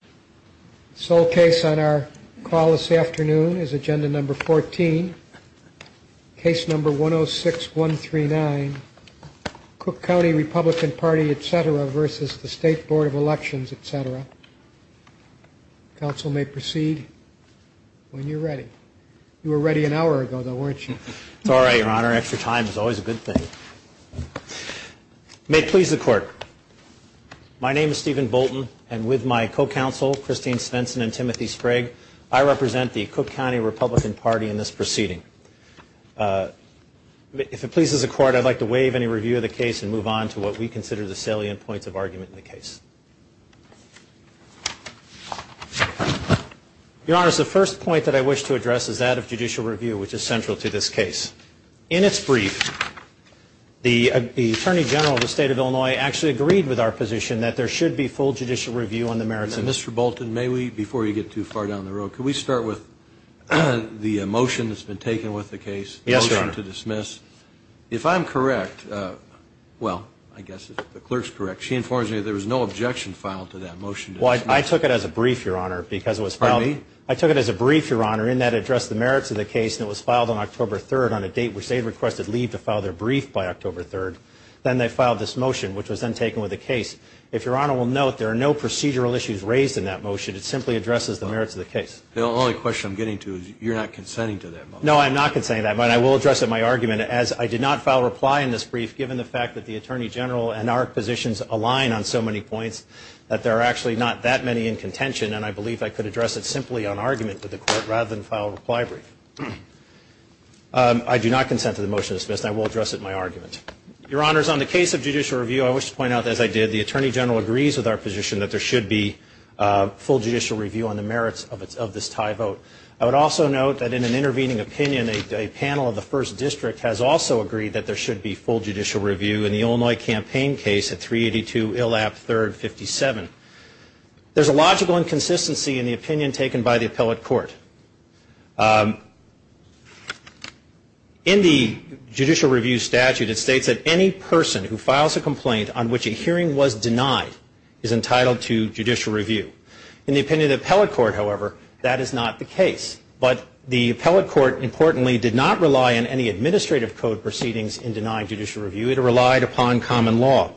The sole case on our call this afternoon is Agenda No. 14, Case No. 106139, Cook County Republican Party, etc. v. State Board of Elections, etc. Council may proceed when you're ready. You were ready an hour ago, though, weren't you? It's all right, Your Honor. Extra time is always a good thing. May it please the Court, my name is Stephen Bolton, and with my co-counsel, Christine Svensson and Timothy Sprague, I represent the Cook County Republican Party in this proceeding. If it pleases the Court, I'd like to waive any review of the case and move on to what we consider the salient points of argument in the case. Your Honor, the first point that I wish to address is that of judicial review, which is central to this case. In its brief, the Attorney General of the State of Illinois actually agreed with our position that there should be full judicial review on the merits and merits of the case, and that's what we're going to do in this case. Mr. Bolton, may we, before you get too far down the road, could we start with the motion that's been taken with the case, the motion to dismiss? If I'm correct, well, I guess if the clerk's correct, she informs me that there was no objection filed to that motion to dismiss. Well, I took it as a brief, Your Honor, because it was filed. Pardon me? I took it as a brief, Your Honor, in that it addressed the merits of the case, and it was filed on October 3rd on a date which they requested leave to file their brief by October 3rd. Well, the only question I'm getting to is you're not consenting to that motion. No, I'm not consenting to that motion. I will address it in my argument, as I did not file a reply in this brief, given the fact that the Attorney General and our positions align on so many points that there are actually not that many in contention, and I believe I could address it simply on argument with the court rather than file a reply brief. I do not consent to the motion to dismiss, and I will address it in my argument. Your Honors, on the case of judicial review, I wish to point out, as I did, the Attorney General agrees with our position that there should be full judicial review on the merits of this tie vote. I would also note that in an intervening opinion, a panel of the First District has also agreed that there should be full judicial review in the Illinois campaign case at 382 ILAP 3rd 57. There's a logical inconsistency in the opinion taken by the appellate court. In the judicial review statute, it states that any person who files a complaint on which a hearing was denied is entitled to judicial review. In the opinion of the appellate court, however, that is not the case. But the appellate court, importantly, did not rely on any administrative code proceedings in denying judicial review. It relied upon common law.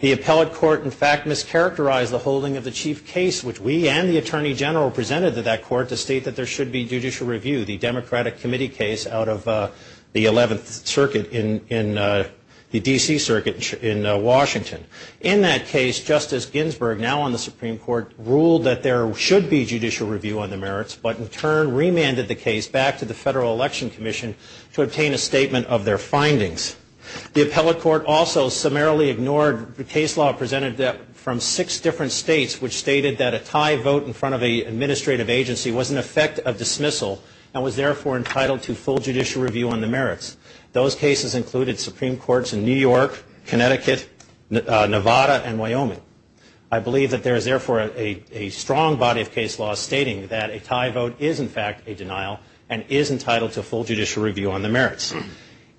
The appellate court, in fact, mischaracterized the holding of the chief case, which we and the Attorney General presented to that court to state that there should be judicial review, the Democratic Committee case out of the 11th Circuit in the D.C. Circuit in Washington. In that case, Justice Ginsburg, now on the Supreme Court, ruled that there should be judicial review on the merits, but in turn remanded the case back to the Federal Election Commission to obtain a statement of their findings. The appellate court also summarily ignored the case law presented from six different states, which stated that a tie vote in front of an administrative agency was an effect of dismissal and was therefore entitled to full judicial review on the merits. Those cases included Supreme Courts in New York, Connecticut, Nevada, and Wyoming. I believe that there is, therefore, a strong body of case law stating that a tie vote is, in fact, a denial and is entitled to full judicial review on the merits.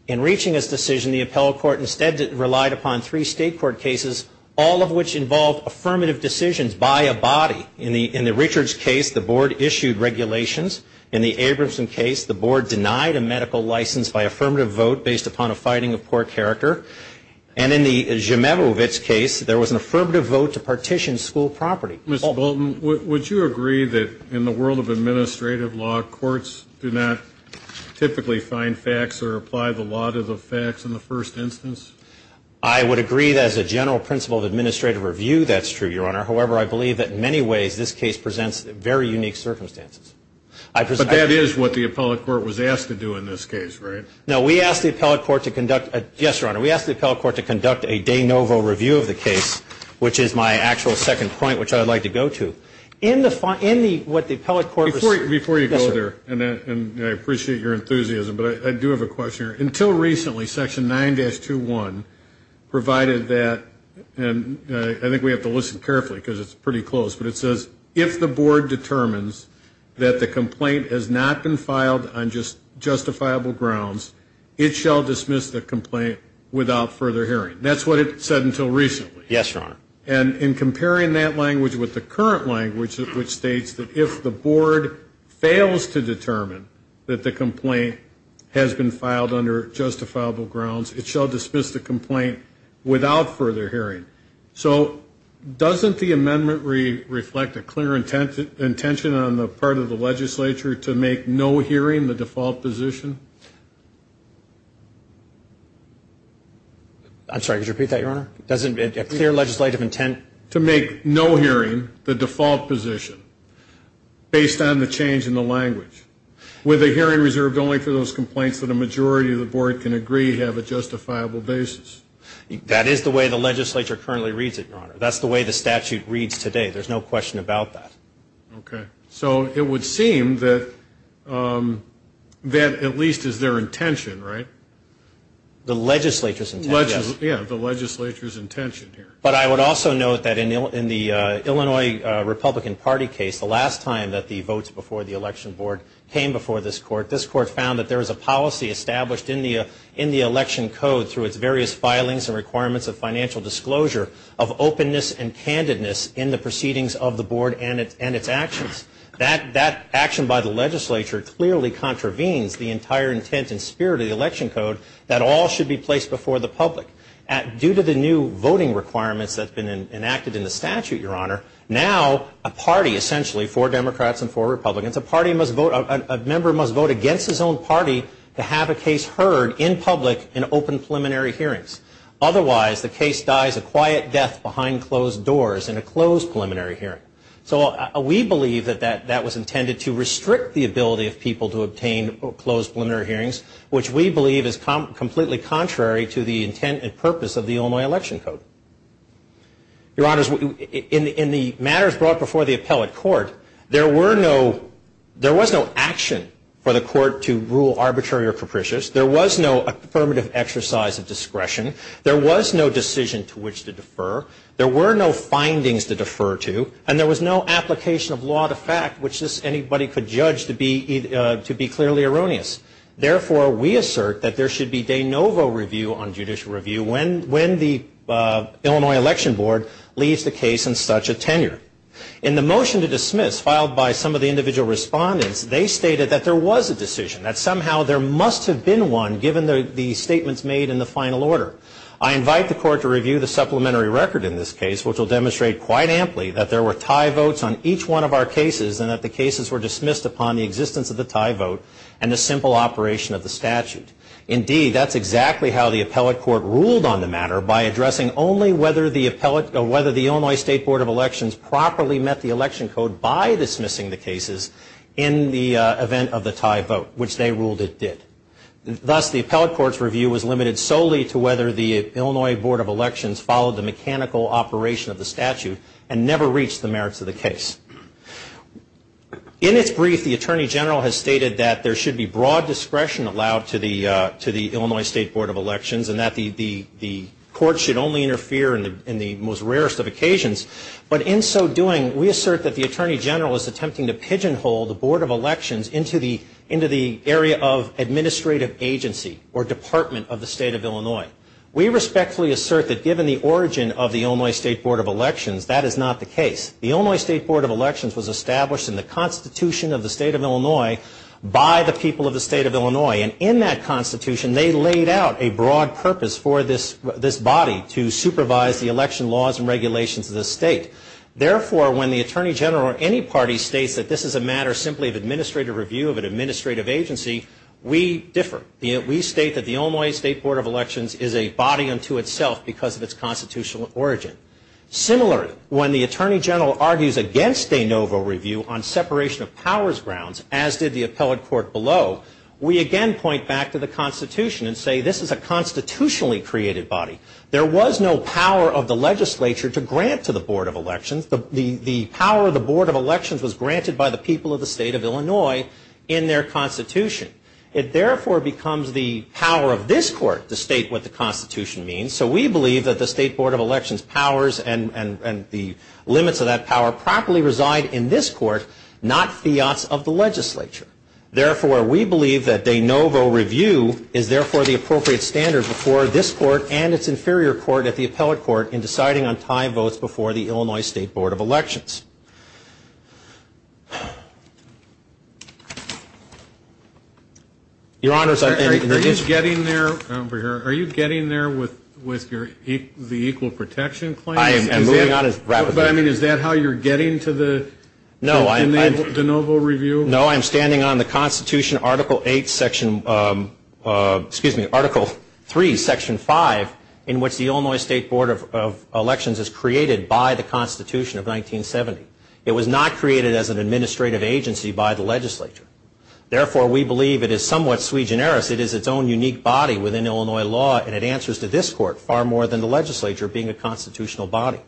In reaching this decision, the appellate court instead relied upon three state court cases, all of which involved affirmative decisions by a body. In the Richards case, the board issued regulations. In the Abramson case, the board denied a medical license by affirmative vote based upon a fighting of poor character. And in the Zemevowitz case, there was an affirmative vote to partition school property. Mr. Bolton, would you agree that in the world of administrative law, courts do not typically find facts or apply the law to the facts in the first instance? I would agree that as a general principle of administrative review, that's true, Your Honor. However, I believe that in many ways this case presents very unique circumstances. But that is what the appellate court was asked to do in this case, right? No, we asked the appellate court to conduct a de novo review of the case, which is my actual second point, which I would like to go to. Before you go there, and I appreciate your enthusiasm, but I do have a question here. Until recently, Section 9-21 provided that, and I think we have to listen carefully because it's pretty close, but it says, if the board determines that the complaint has not been filed on justifiable grounds, it shall dismiss the complaint without further hearing. That's what it said until recently. Yes, Your Honor. And in comparing that language with the current language, which states that if the board fails to determine that the complaint has been filed under justifiable grounds, it shall dismiss the complaint without further hearing. So doesn't the amendment reflect a clear intention on the part of the legislature to make no hearing the default position? I'm sorry, could you repeat that, Your Honor? Doesn't a clear legislative intent to make no hearing the default position, based on the change in the language, with a hearing reserved only for those complaints that a majority of the board can agree have a justifiable basis? That is the way the legislature currently reads it, Your Honor. That's the way the statute reads today. There's no question about that. Okay. So it would seem that that at least is their intention, right? The legislature's intent, yes. Yeah, the legislature's intention here. But I would also note that in the Illinois Republican Party case, the last time that the votes before the election board came before this court, this court found that there was a policy established in the election code, through its various filings and requirements of financial disclosure, of openness and candidness in the proceedings of the board and its actions. That action by the legislature clearly contravenes the entire intent and spirit of the election code that all should be placed before the public. Due to the new voting requirements that have been enacted in the statute, Your Honor, now a party essentially, four Democrats and four Republicans, a member must vote against his own party to have a case heard in public in open preliminary hearings. Otherwise, the case dies a quiet death behind closed doors in a closed preliminary hearing. So we believe that that was intended to restrict the ability of people to obtain closed preliminary hearings, which we believe is completely contrary to the intent and purpose of the Illinois election code. Your Honors, in the matters brought before the appellate court, there was no action for the court to rule arbitrary or capricious. There was no affirmative exercise of discretion. There was no decision to which to defer. There were no findings to defer to. And there was no application of law to fact, which anybody could judge to be clearly erroneous. Therefore, we assert that there should be de novo review on judicial review when the Illinois election board leaves the case in such a tenure. In the motion to dismiss, filed by some of the individual respondents, they stated that there was a decision, that somehow there must have been one given the statements made in the final order. I invite the court to review the supplementary record in this case, which will demonstrate quite amply that there were tie votes on each one of our cases and that the cases were dismissed upon the existence of the tie vote and the simple operation of the statute. Indeed, that's exactly how the appellate court ruled on the matter by addressing only whether the Illinois state board of elections properly met the election code by dismissing the cases in the event of the tie vote, which they ruled it did. Thus, the appellate court's review was limited solely to whether the Illinois board of elections followed the mechanical operation of the statute and never reached the merits of the case. In its brief, the attorney general has stated that there should be broad discretion allowed to the Illinois state board of elections and that the court should only interfere in the most rarest of occasions. But in so doing, we assert that the attorney general is attempting to pigeonhole the board of elections into the area of administrative agency or department of the state of Illinois. We respectfully assert that given the origin of the Illinois state board of elections, that is not the case. The Illinois state board of elections was established in the Constitution of the state of Illinois by the people of the state of Illinois. And in that Constitution, they laid out a broad purpose for this body to supervise the election laws and regulations of the state. Therefore, when the attorney general or any party states that this is a matter simply of administrative review of an administrative agency, we differ. We state that the Illinois state board of elections is a body unto itself because of its constitutional origin. Similarly, when the attorney general argues against de novo review on separation of powers grounds, as did the appellate court below, we again point back to the Constitution and say this is a constitutionally created body. There was no power of the legislature to grant to the board of elections. The power of the board of elections was granted by the people of the state of Illinois in their Constitution. It therefore becomes the power of this court to state what the Constitution means. So we believe that the state board of elections powers and the limits of that power properly reside in this court, not fiats of the legislature. Therefore, we believe that de novo review is therefore the appropriate standard before this court and its inferior court at the appellate court in deciding on tie votes before the Illinois state board of elections. Your Honors, I've been very interested. Are you getting there with the equal protection claims? I am moving on as rapidly as I can. But, I mean, is that how you're getting to the de novo review? No, I'm standing on the Constitution, Article III, Section 5, in which the Illinois state board of elections is created by the Constitution of 1970. It was not created as an administrative agency by the legislature. Therefore, we believe it is somewhat sui generis. It is its own unique body within Illinois law, and it answers to this court far more than the legislature being a constitutional body.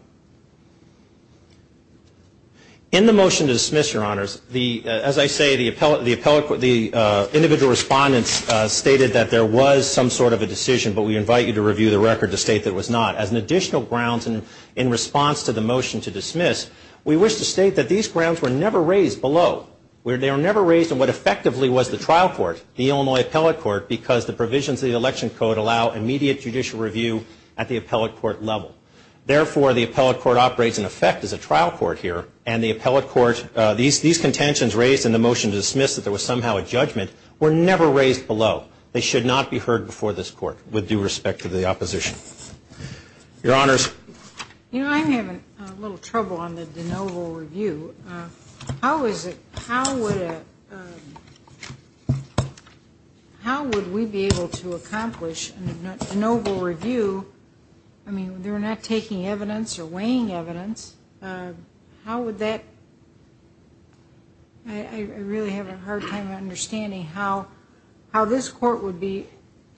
In the motion to dismiss, Your Honors, as I say, the individual respondents stated that there was some sort of a decision, but we invite you to review the record to state that it was not. As an additional grounds in response to the motion to dismiss, we wish to state that these grounds were never raised below. They were never raised in what effectively was the trial court, the Illinois appellate court, because the provisions of the election code allow immediate judicial review at the appellate court level. Therefore, the appellate court operates in effect as a trial court here, and the appellate court, these contentions raised in the motion to dismiss that there was somehow a judgment were never raised below. They should not be heard before this court with due respect to the opposition. Your Honors. You know, I'm having a little trouble on the de novo review. How is it, how would we be able to accomplish a de novo review? I mean, they're not taking evidence or weighing evidence. How would that, I really have a hard time understanding how this court would be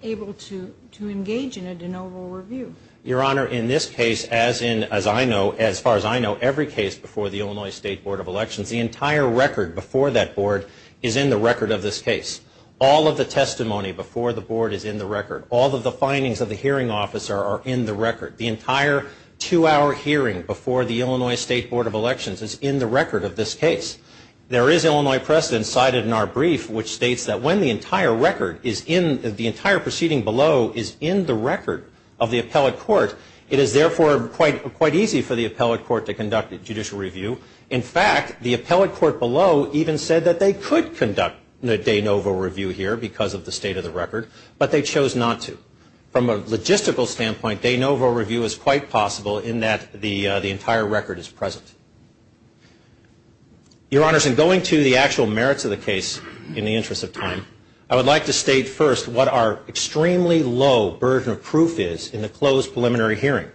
able to engage in a de novo review. Your Honor, in this case, as in, as I know, as far as I know, every case before the Illinois State Board of Elections, the entire record before that board is in the record of this case. All of the testimony before the board is in the record. All of the findings of the hearing officer are in the record. The entire two-hour hearing before the Illinois State Board of Elections is in the record of this case. There is Illinois precedent cited in our brief which states that when the entire record is in, the entire proceeding below is in the record of the appellate court, it is therefore quite easy for the appellate court to conduct a judicial review. In fact, the appellate court below even said that they could conduct a de novo review here because of the state of the record, but they chose not to. From a logistical standpoint, de novo review is quite possible in that the entire record is present. Your Honors, in going to the actual merits of the case in the interest of time, I would like to state first what our extremely low version of proof is in the closed preliminary hearing.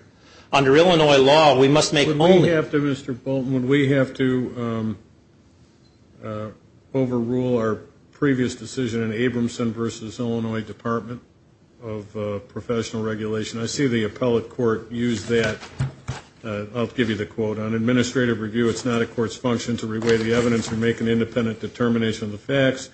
Under Illinois law, we must make only- versus Illinois Department of Professional Regulation. I see the appellate court use that. I'll give you the quote. On administrative review, it's not a court's function to re-weigh the evidence or make an independent determination of the facts.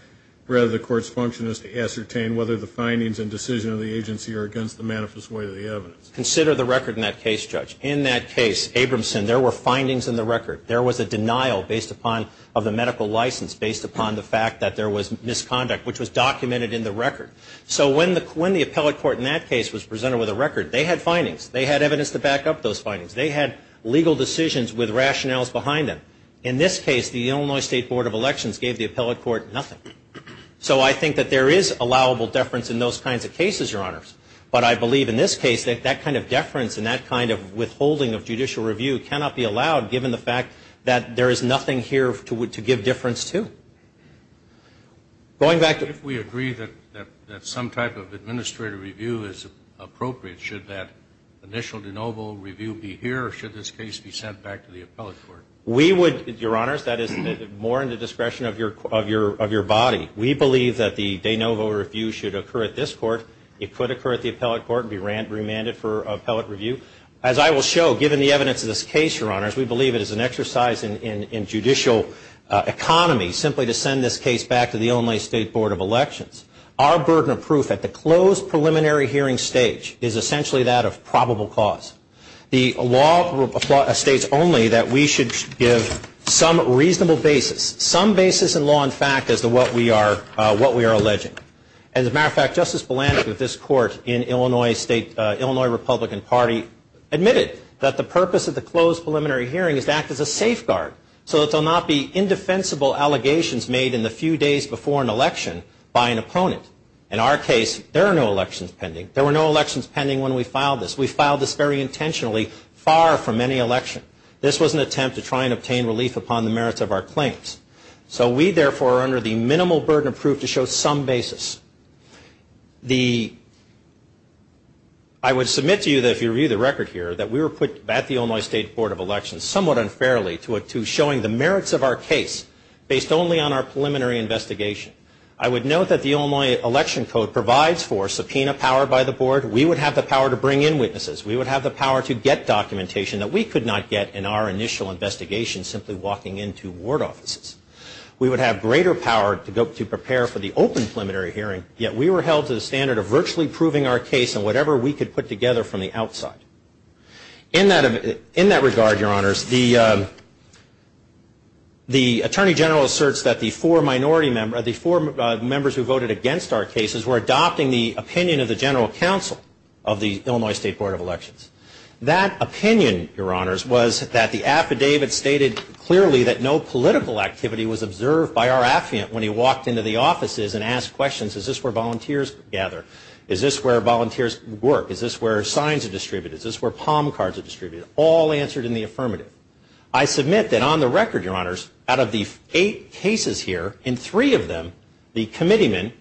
Rather, the court's function is to ascertain whether the findings and decision of the agency are against the manifest way of the evidence. Consider the record in that case, Judge. In that case, Abramson, there were findings in the record. There was a denial of the medical license based upon the fact that there was misconduct, which was documented in the record. So when the appellate court in that case was presented with a record, they had findings. They had evidence to back up those findings. They had legal decisions with rationales behind them. In this case, the Illinois State Board of Elections gave the appellate court nothing. So I think that there is allowable deference in those kinds of cases, Your Honors. But I believe in this case that that kind of deference and that kind of withholding of judicial review cannot be allowed given the fact that there is nothing here to give deference to. Going back to the... If we agree that some type of administrative review is appropriate, should that initial de novo review be here or should this case be sent back to the appellate court? We would, Your Honors, that is more in the discretion of your body. We believe that the de novo review should occur at this court. It could occur at the appellate court and be remanded for appellate review. As I will show, given the evidence of this case, Your Honors, we believe it is an exercise in judicial economy simply to send this case back to the Illinois State Board of Elections. Our burden of proof at the closed preliminary hearing stage is essentially that of probable cause. The law states only that we should give some reasonable basis, some basis in law and fact as to what we are alleging. As a matter of fact, Justice Bulanek of this court in Illinois State, Illinois Republican Party, admitted that the purpose of the closed preliminary hearing is to act as a safeguard so that there will not be indefensible allegations made in the few days before an election by an opponent. In our case, there are no elections pending. There were no elections pending when we filed this. We filed this very intentionally far from any election. This was an attempt to try and obtain relief upon the merits of our claims. So we, therefore, are under the minimal burden of proof to show some basis. I would submit to you that if you read the record here, that we were put at the Illinois State Board of Elections somewhat unfairly to showing the merits of our case based only on our preliminary investigation. I would note that the Illinois Election Code provides for subpoena power by the board. We would have the power to bring in witnesses. We would have the power to get documentation that we could not get in our initial investigation simply walking into ward offices. We would have greater power to prepare for the open preliminary hearing, yet we were held to the standard of virtually proving our case and whatever we could put together from the outside. In that regard, Your Honors, the Attorney General asserts that the four minority members, the four members who voted against our cases, were adopting the opinion of the General Counsel of the Illinois State Board of Elections. That opinion, Your Honors, was that the affidavit stated clearly that no political activity was observed by our affiant when he walked into the offices and asked questions. Is this where volunteers gather? Is this where volunteers work? Is this where signs are distributed? Is this where palm cards are distributed? All answered in the affirmative. I submit that on the record, Your Honors, out of the eight cases here, and three of them, the committeemen,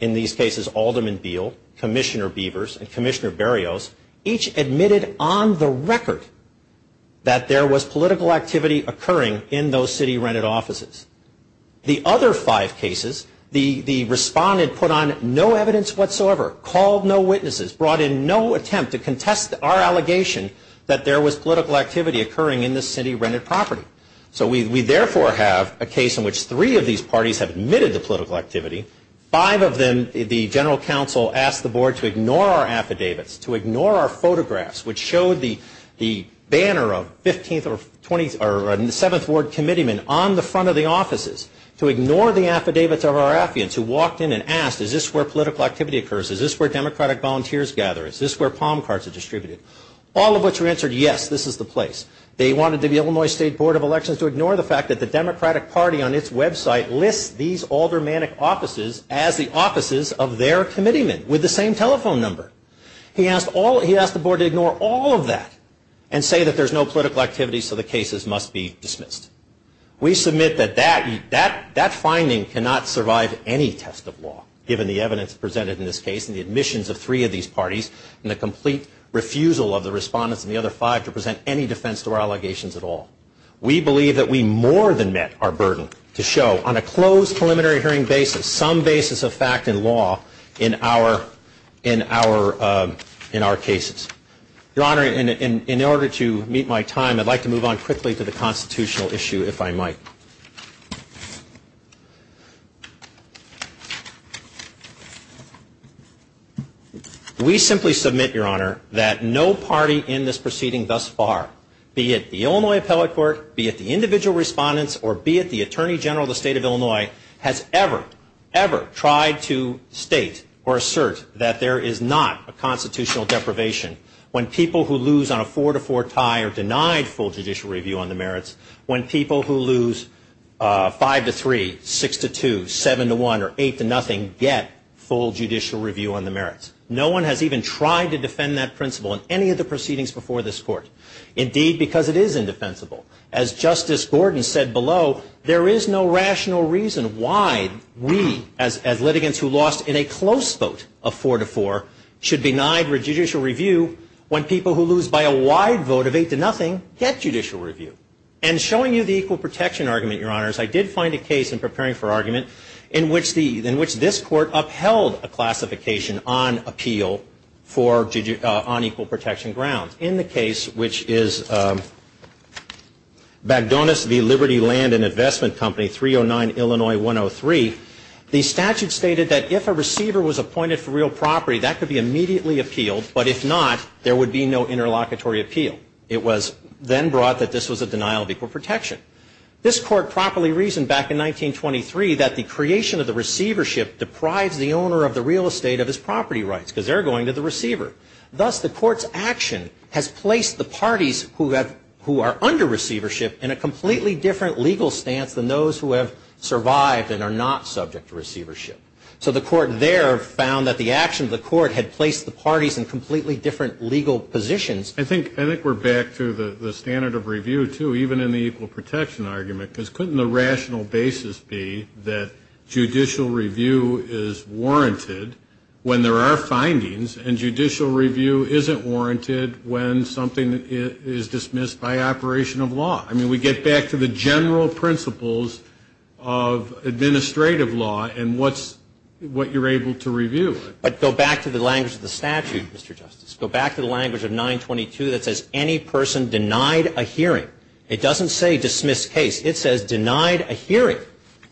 in these cases, Alderman Beal, Commissioner Beavers, and Commissioner Berrios, each admitted on the record that there was political activity occurring in those city-rented offices. The other five cases, the respondent put on no evidence whatsoever, called no witnesses, brought in no attempt to contest our allegation that there was political activity occurring in the city-rented property. So we therefore have a case in which three of these parties have admitted to political activity. Five of them, the general counsel asked the board to ignore our affidavits, to ignore our photographs, which showed the banner of 15th or 20th or 7th Ward committeemen on the front of the offices, to ignore the affidavits of our affiants who walked in and asked, is this where political activity occurs? Is this where Democratic volunteers gather? Is this where palm cards are distributed? All of which were answered, yes, this is the place. They wanted the Illinois State Board of Elections to ignore the fact that the Democratic Party on its website lists these aldermanic offices as the offices of their committeemen with the same telephone number. He asked the board to ignore all of that and say that there's no political activity, so the cases must be dismissed. We submit that that finding cannot survive any test of law, given the evidence presented in this case and the admissions of three of these parties and the complete refusal of the respondents and the other five to present any defense to our allegations at all. We believe that we more than met our burden to show on a closed preliminary hearing basis some basis of fact and law in our cases. Your Honor, in order to meet my time, I'd like to move on quickly to the constitutional issue, if I might. We simply submit, Your Honor, that no party in this proceeding thus far, be it the Illinois Appellate Court, be it the individual respondents, or be it the Attorney General of the State of Illinois, has ever, ever tried to state or assert that there is not a constitutional deprivation when people who lose on a four-to-four tie are denied full judicial review on the merits, when people who lose five-to-three, six-to-two, seven-to-one, or eight-to-nothing get full judicial review on the merits. No one has even tried to defend that principle in any of the proceedings before this Court. Indeed, because it is indefensible. As Justice Gordon said below, there is no rational reason why we, as litigants who lost in a close vote of four-to-four, should be denied judicial review when people who lose by a wide vote of eight-to-nothing get judicial review. And showing you the equal protection argument, Your Honors, I did find a case in preparing for argument in which this Court upheld a classification on appeal on equal protection grounds. In the case which is Bagdonas v. Liberty Land and Investment Company, 309 Illinois 103, the statute stated that if a receiver was appointed for real property, that could be immediately appealed, but if not, there would be no interlocutory appeal. It was then brought that this was a denial of equal protection. This Court properly reasoned back in 1923 that the creation of the receivership deprives the owner of the real estate of his property rights, because they're going to the receiver. Thus, the Court's action has placed the parties who are under receivership in a completely different legal stance than those who have survived and are not subject to receivership. So the Court there found that the action of the Court had placed the parties in completely different legal positions. I think we're back to the standard of review, too, even in the equal protection argument, because couldn't the rational basis be that judicial review is warranted when there are findings and judicial review isn't warranted when something is dismissed by operation of law? I mean, we get back to the general principles of administrative law and what you're able to review. But go back to the language of the statute, Mr. Justice. Go back to the language of 922 that says any person denied a hearing. It doesn't say dismissed case. It says denied a hearing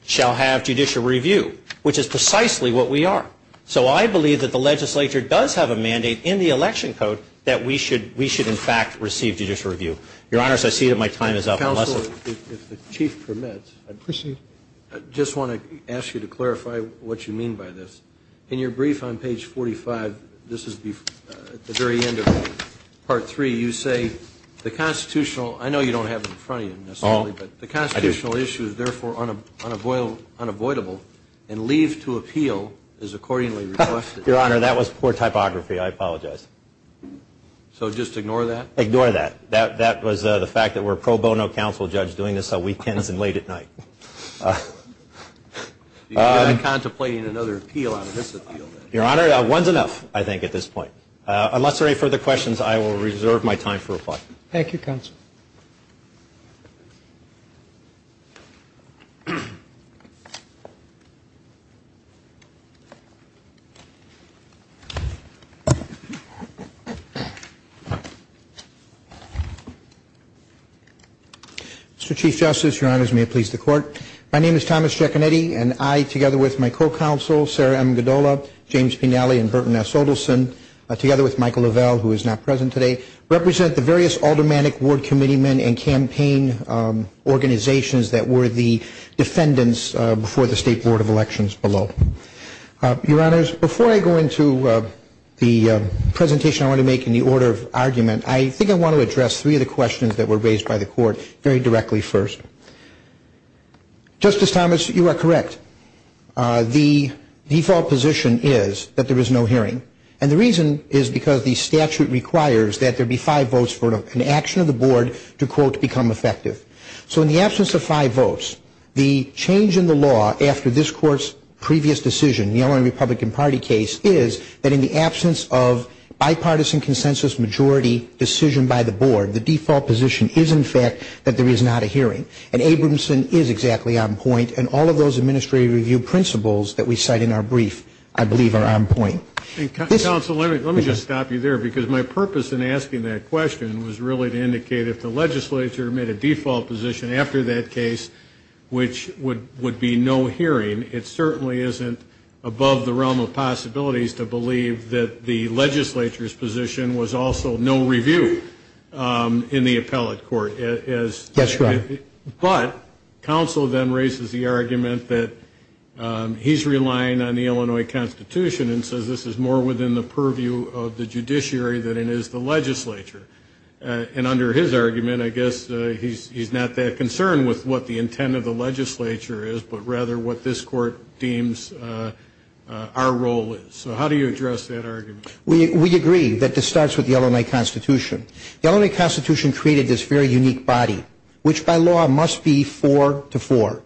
shall have judicial review, which is precisely what we are. So I believe that the legislature does have a mandate in the election code that we should in fact receive judicial review. Your Honor, I see that my time is up. Counsel, if the Chief permits, I just want to ask you to clarify what you mean by this. In your brief on page 45, this is at the very end of Part 3, you say, I know you don't have it in front of you necessarily, but the constitutional issue is therefore unavoidable and leave to appeal is accordingly requested. Your Honor, that was poor typography. I apologize. So just ignore that? Ignore that. That was the fact that we're a pro bono counsel judge doing this on weekends and late at night. You're contemplating another appeal on this appeal. Your Honor, one's enough, I think, at this point. Unless there are any further questions, I will reserve my time for reply. Thank you, Counsel. Mr. Chief Justice, Your Honors, may it please the Court. My name is Thomas Giaconetti, and I, together with my co-counsel, Sarah M. Gaddola, James Pinelli, and Burton S. Odelson, together with Michael Lavelle, who is not present today, represent the various aldermanic ward committeemen and campaign organizations that were the defendants before the State Board of Elections below. Your Honors, before I go into the presentation I want to make in the order of argument, I think I want to address three of the questions that were raised by the Court very directly first. Justice Thomas, you are correct. The default position is that there is no hearing, and the reason is because the statute requires that there be five votes for an action of the Board to, quote, become effective. So in the absence of five votes, the change in the law after this Court's previous decision, the only Republican Party case is that in the absence of bipartisan consensus majority decision by the Board, the default position is, in fact, that there is not a hearing. And Abramson is exactly on point, and all of those administrative review principles that we cite in our brief, I believe, are on point. Counsel, let me just stop you there, because my purpose in asking that question was really to indicate if the legislature made a default position after that case, which would be no hearing, it certainly isn't above the realm of possibilities to believe that the legislature's position was also no review in the appellate court. That's right. But counsel then raises the argument that he's relying on the Illinois Constitution and says this is more within the purview of the judiciary than it is the legislature. And under his argument, I guess he's not that concerned with what the intent of the legislature is, but rather what this Court deems our role is. So how do you address that argument? We agree that this starts with the Illinois Constitution. The Illinois Constitution created this very unique body, which by law must be four to four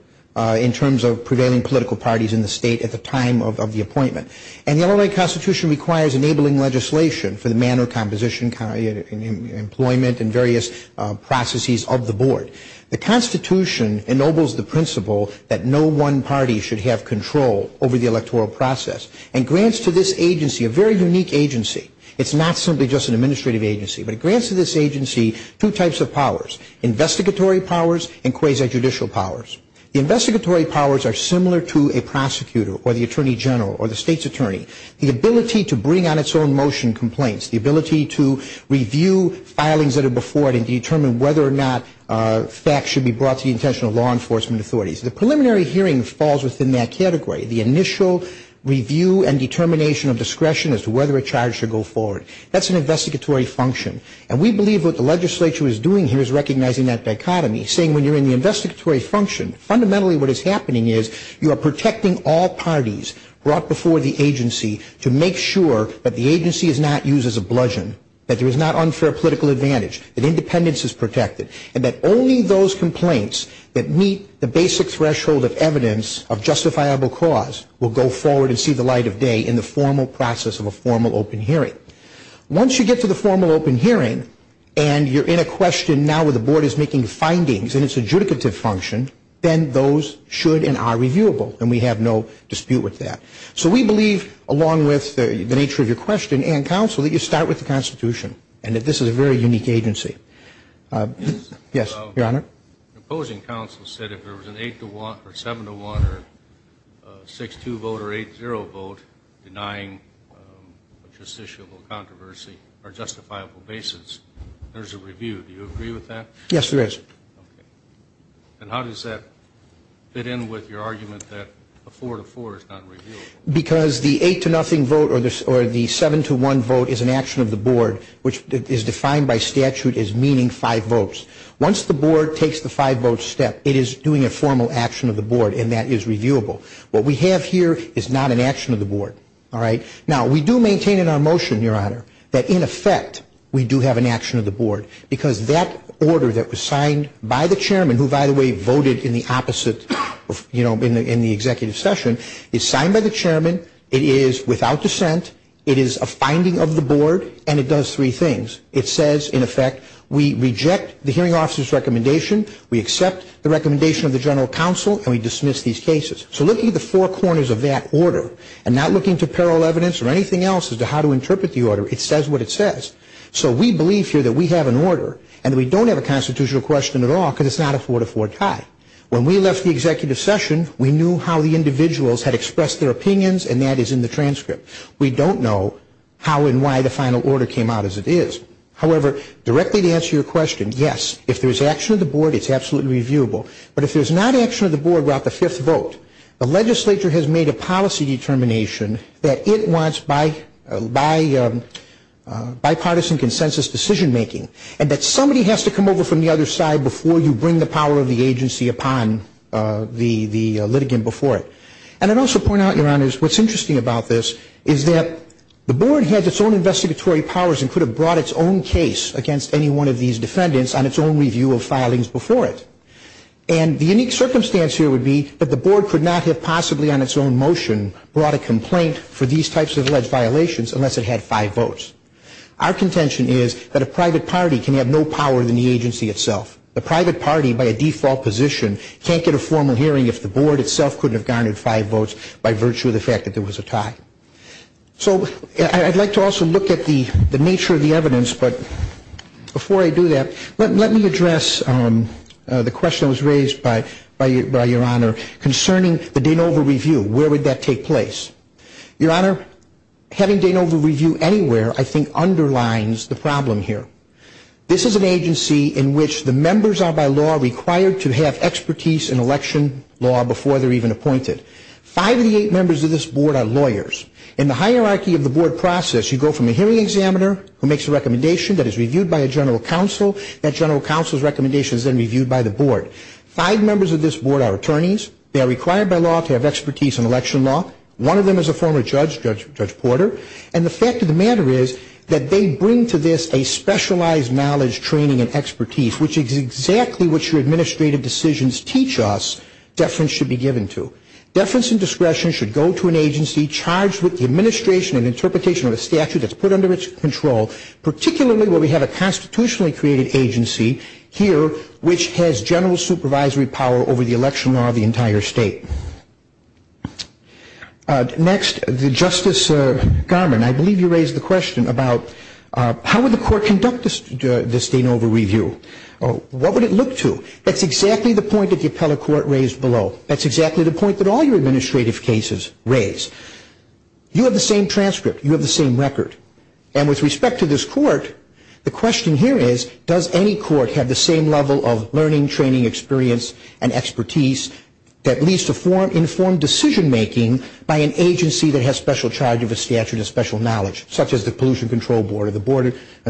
in terms of prevailing political parties in the state at the time of the appointment. And the Illinois Constitution requires enabling legislation for the manner, composition, employment, and various processes of the Board. The Constitution ennobles the principle that no one party should have control over the electoral process and grants to this agency a very unique agency. It's not simply just an administrative agency, but it grants to this agency two types of powers, investigatory powers and quasi-judicial powers. The investigatory powers are similar to a prosecutor or the attorney general or the state's attorney. The ability to bring on its own motion complaints, the ability to review filings that are before it and determine whether or not facts should be brought to the intentional law enforcement authorities. The preliminary hearing falls within that category. The initial review and determination of discretion as to whether a charge should go forward. That's an investigatory function. And we believe what the legislature is doing here is recognizing that dichotomy, saying when you're in the investigatory function, fundamentally what is happening is you are protecting all parties brought before the agency to make sure that the agency is not used as a bludgeon, that there is not unfair political advantage, that independence is protected, and that only those complaints that meet the basic threshold of evidence of justifiable cause will go forward and see the light of day in the formal process of a formal open hearing. Once you get to the formal open hearing and you're in a question now where the board is making findings and it's adjudicative function, then those should and are reviewable. And we have no dispute with that. So we believe, along with the nature of your question and counsel, that you start with the Constitution and that this is a very unique agency. Yes, Your Honor. The opposing counsel said if there was an 8-1 or 7-1 or 6-2 vote or 8-0 vote denying a justiciable controversy or justifiable basis, there's a review. Do you agree with that? Yes, there is. Okay. And how does that fit in with your argument that a 4-4 is not reviewable? Because the 8-0 vote or the 7-1 vote is an action of the board, which is defined by statute as meaning five votes. Once the board takes the five-vote step, it is doing a formal action of the board, and that is reviewable. What we have here is not an action of the board. All right? Now, we do maintain in our motion, Your Honor, that in effect we do have an action of the board, because that order that was signed by the chairman, who, by the way, voted in the opposite, you know, in the executive session, is signed by the chairman, it is without dissent, it is a finding of the board, and it does three things. It says, in effect, we reject the hearing officer's recommendation, we accept the recommendation of the general counsel, and we dismiss these cases. So looking at the four corners of that order and not looking to parallel evidence or anything else as to how to interpret the order, it says what it says. So we believe here that we have an order and we don't have a constitutional question at all because it's not a 4-4 tie. When we left the executive session, we knew how the individuals had expressed their opinions, and that is in the transcript. We don't know how and why the final order came out as it is. However, directly to answer your question, yes, if there's action of the board, it's absolutely reviewable. But if there's not action of the board without the fifth vote, the legislature has made a policy determination that it wants bipartisan consensus decision-making and that somebody has to come over from the other side before you bring the power of the agency upon the litigant before it. And I'd also point out, Your Honors, what's interesting about this is that the board has its own investigatory powers and could have brought its own case against any one of these defendants on its own review of filings before it. And the unique circumstance here would be that the board could not have possibly on its own motion brought a complaint for these types of alleged violations unless it had five votes. Our contention is that a private party can have no power than the agency itself. A private party by a default position can't get a formal hearing if the board itself couldn't have garnered five votes by virtue of the fact that there was a tie. So I'd like to also look at the nature of the evidence, but before I do that, let me address the question that was raised by Your Honor concerning the Danova review. Where would that take place? Your Honor, having Danova review anywhere I think underlines the problem here. This is an agency in which the members are by law required to have expertise in election law before they're even appointed. Five of the eight members of this board are lawyers. In the hierarchy of the board process, you go from a hearing examiner who makes a recommendation that is reviewed by a general counsel, that general counsel's recommendation is then reviewed by the board. Five members of this board are attorneys. They are required by law to have expertise in election law. One of them is a former judge, Judge Porter, and the fact of the matter is that they bring to this a specialized knowledge, training, and expertise, which is exactly what your administrative decisions teach us deference should be given to. Deference and discretion should go to an agency charged with the administration and interpretation of a statute that's put under its control, particularly where we have a constitutionally created agency here which has general supervisory power over the election law of the entire state. Next, Justice Garmon, I believe you raised the question about how would the court conduct this Danova review? What would it look to? That's exactly the point that the appellate court raised below. That's exactly the point that all your administrative cases raise. You have the same transcript. You have the same record. And with respect to this court, the question here is, does any court have the same level of learning, training, experience, and expertise that leads to informed decision-making by an agency that has special charge of a statute of special knowledge, such as the Pollution Control Board or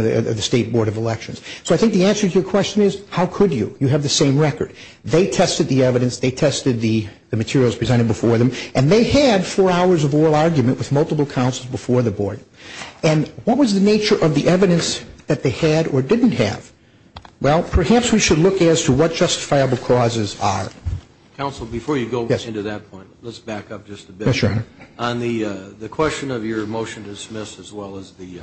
the State Board of Elections? So I think the answer to your question is, how could you? You have the same record. They tested the evidence. They tested the materials presented before them, and they had four hours of oral argument with multiple counsels before the board. And what was the nature of the evidence that they had or didn't have? Well, perhaps we should look as to what justifiable causes are. Counsel, before you go into that point, let's back up just a bit. Yes, Your Honor. On the question of your motion to dismiss as well as the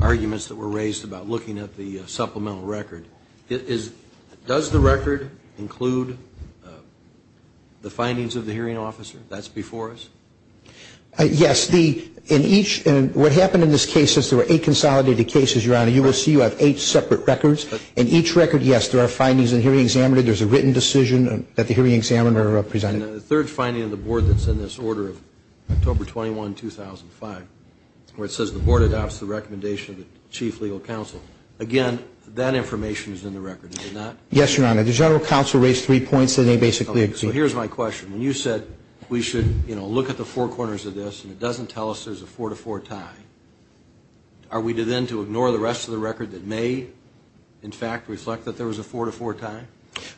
arguments that were raised about looking at the supplemental record, does the record include the findings of the hearing officer? That's before us? Yes. What happened in this case is there were eight consolidated cases, Your Honor. You will see you have eight separate records. In each record, yes, there are findings in the hearing examiner. There's a written decision that the hearing examiner presented. And the third finding of the board that's in this order of October 21, 2005, where it says the board adopts the recommendation of the chief legal counsel, again, that information is in the record, is it not? Yes, Your Honor. The general counsel raised three points and they basically agree. So here's my question. When you said we should, you know, look at the four corners of this and it doesn't tell us there's a four-to-four tie, are we then to ignore the rest of the record that may, in fact, reflect that there was a four-to-four tie?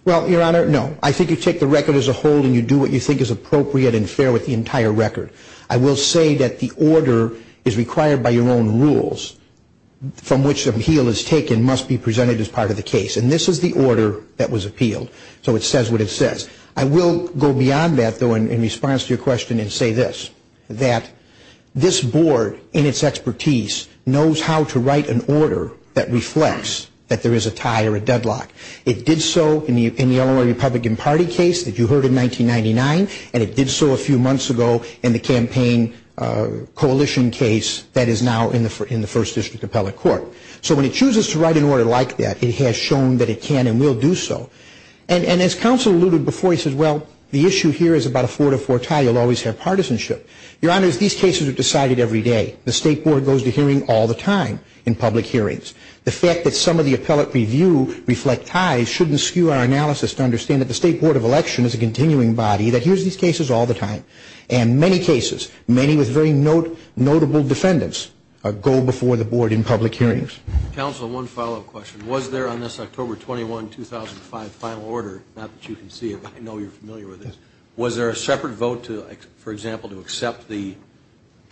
Well, Your Honor, no. I think you take the record as a whole and you do what you think is appropriate and fair with the entire record. I will say that the order is required by your own rules, from which the appeal is taken, must be presented as part of the case. And this is the order that was appealed. So it says what it says. I will go beyond that, though, in response to your question and say this, that this board in its expertise knows how to write an order that reflects that there is a tie or a deadlock. It did so in the Illinois Republican Party case that you heard in 1999, and it did so a few months ago in the campaign coalition case that is now in the First District Appellate Court. So when it chooses to write an order like that, it has shown that it can and will do so. And as counsel alluded before, he says, well, the issue here is about a four-to-four tie. You'll always have partisanship. Your Honor, these cases are decided every day. The State Board goes to hearing all the time in public hearings. The fact that some of the appellate review reflect ties shouldn't skew our analysis to understand that the State Board of Election is a continuing body that hears these cases all the time. And many cases, many with very notable defendants, go before the board in public hearings. Counsel, one follow-up question. Was there on this October 21, 2005, final order, not that you can see it, but I know you're familiar with this, was there a separate vote, for example, to accept the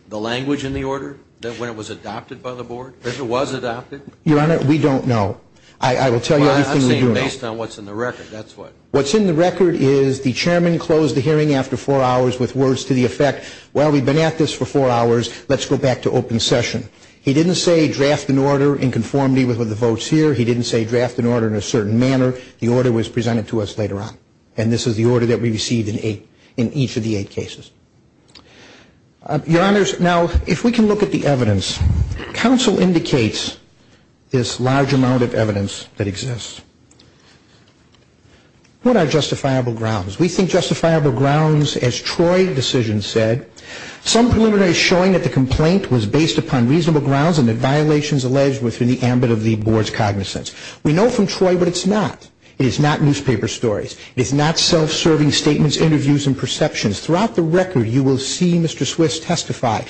language in the order when it was adopted by the board? If it was adopted? Your Honor, we don't know. I will tell you everything we do know. Based on what's in the record, that's what. What's in the record is the chairman closed the hearing after four hours with words to the effect, while we've been at this for four hours, let's go back to open session. He didn't say draft an order in conformity with what the vote's here. He didn't say draft an order in a certain manner. The order was presented to us later on. And this is the order that we received in each of the eight cases. Your Honors, now, if we can look at the evidence. Counsel indicates this large amount of evidence that exists. What are justifiable grounds? We think justifiable grounds, as Troy's decision said, some preliminary showing that the complaint was based upon reasonable grounds and that violations alleged within the ambit of the board's cognizance. We know from Troy, but it's not. It is not newspaper stories. It is not self-serving statements, interviews, and perceptions. Throughout the record, you will see Mr. Swiss testify.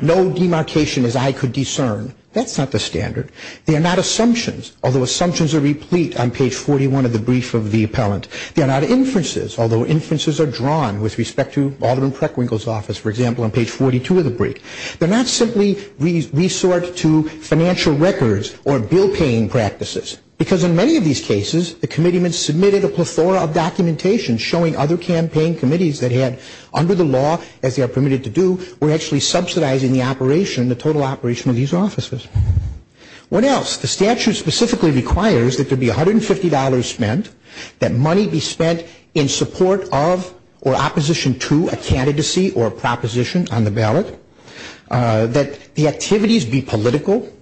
No demarcation as I could discern. That's not the standard. They are not assumptions, although assumptions are replete on page 41 of the brief of the appellant. They are not inferences, although inferences are drawn with respect to Alderman Preckwinkle's office, for example, on page 42 of the brief. They're not simply resort to financial records or bill-paying practices. Because in many of these cases, the committeeman submitted a plethora of documentation showing other campaign committees that had, under the law, as they are permitted to do, were actually subsidizing the operation, the total operation of these offices. What else? The statute specifically requires that there be $150 spent, that money be spent in support of or opposition to a candidacy or proposition on the ballot, that the activities be political.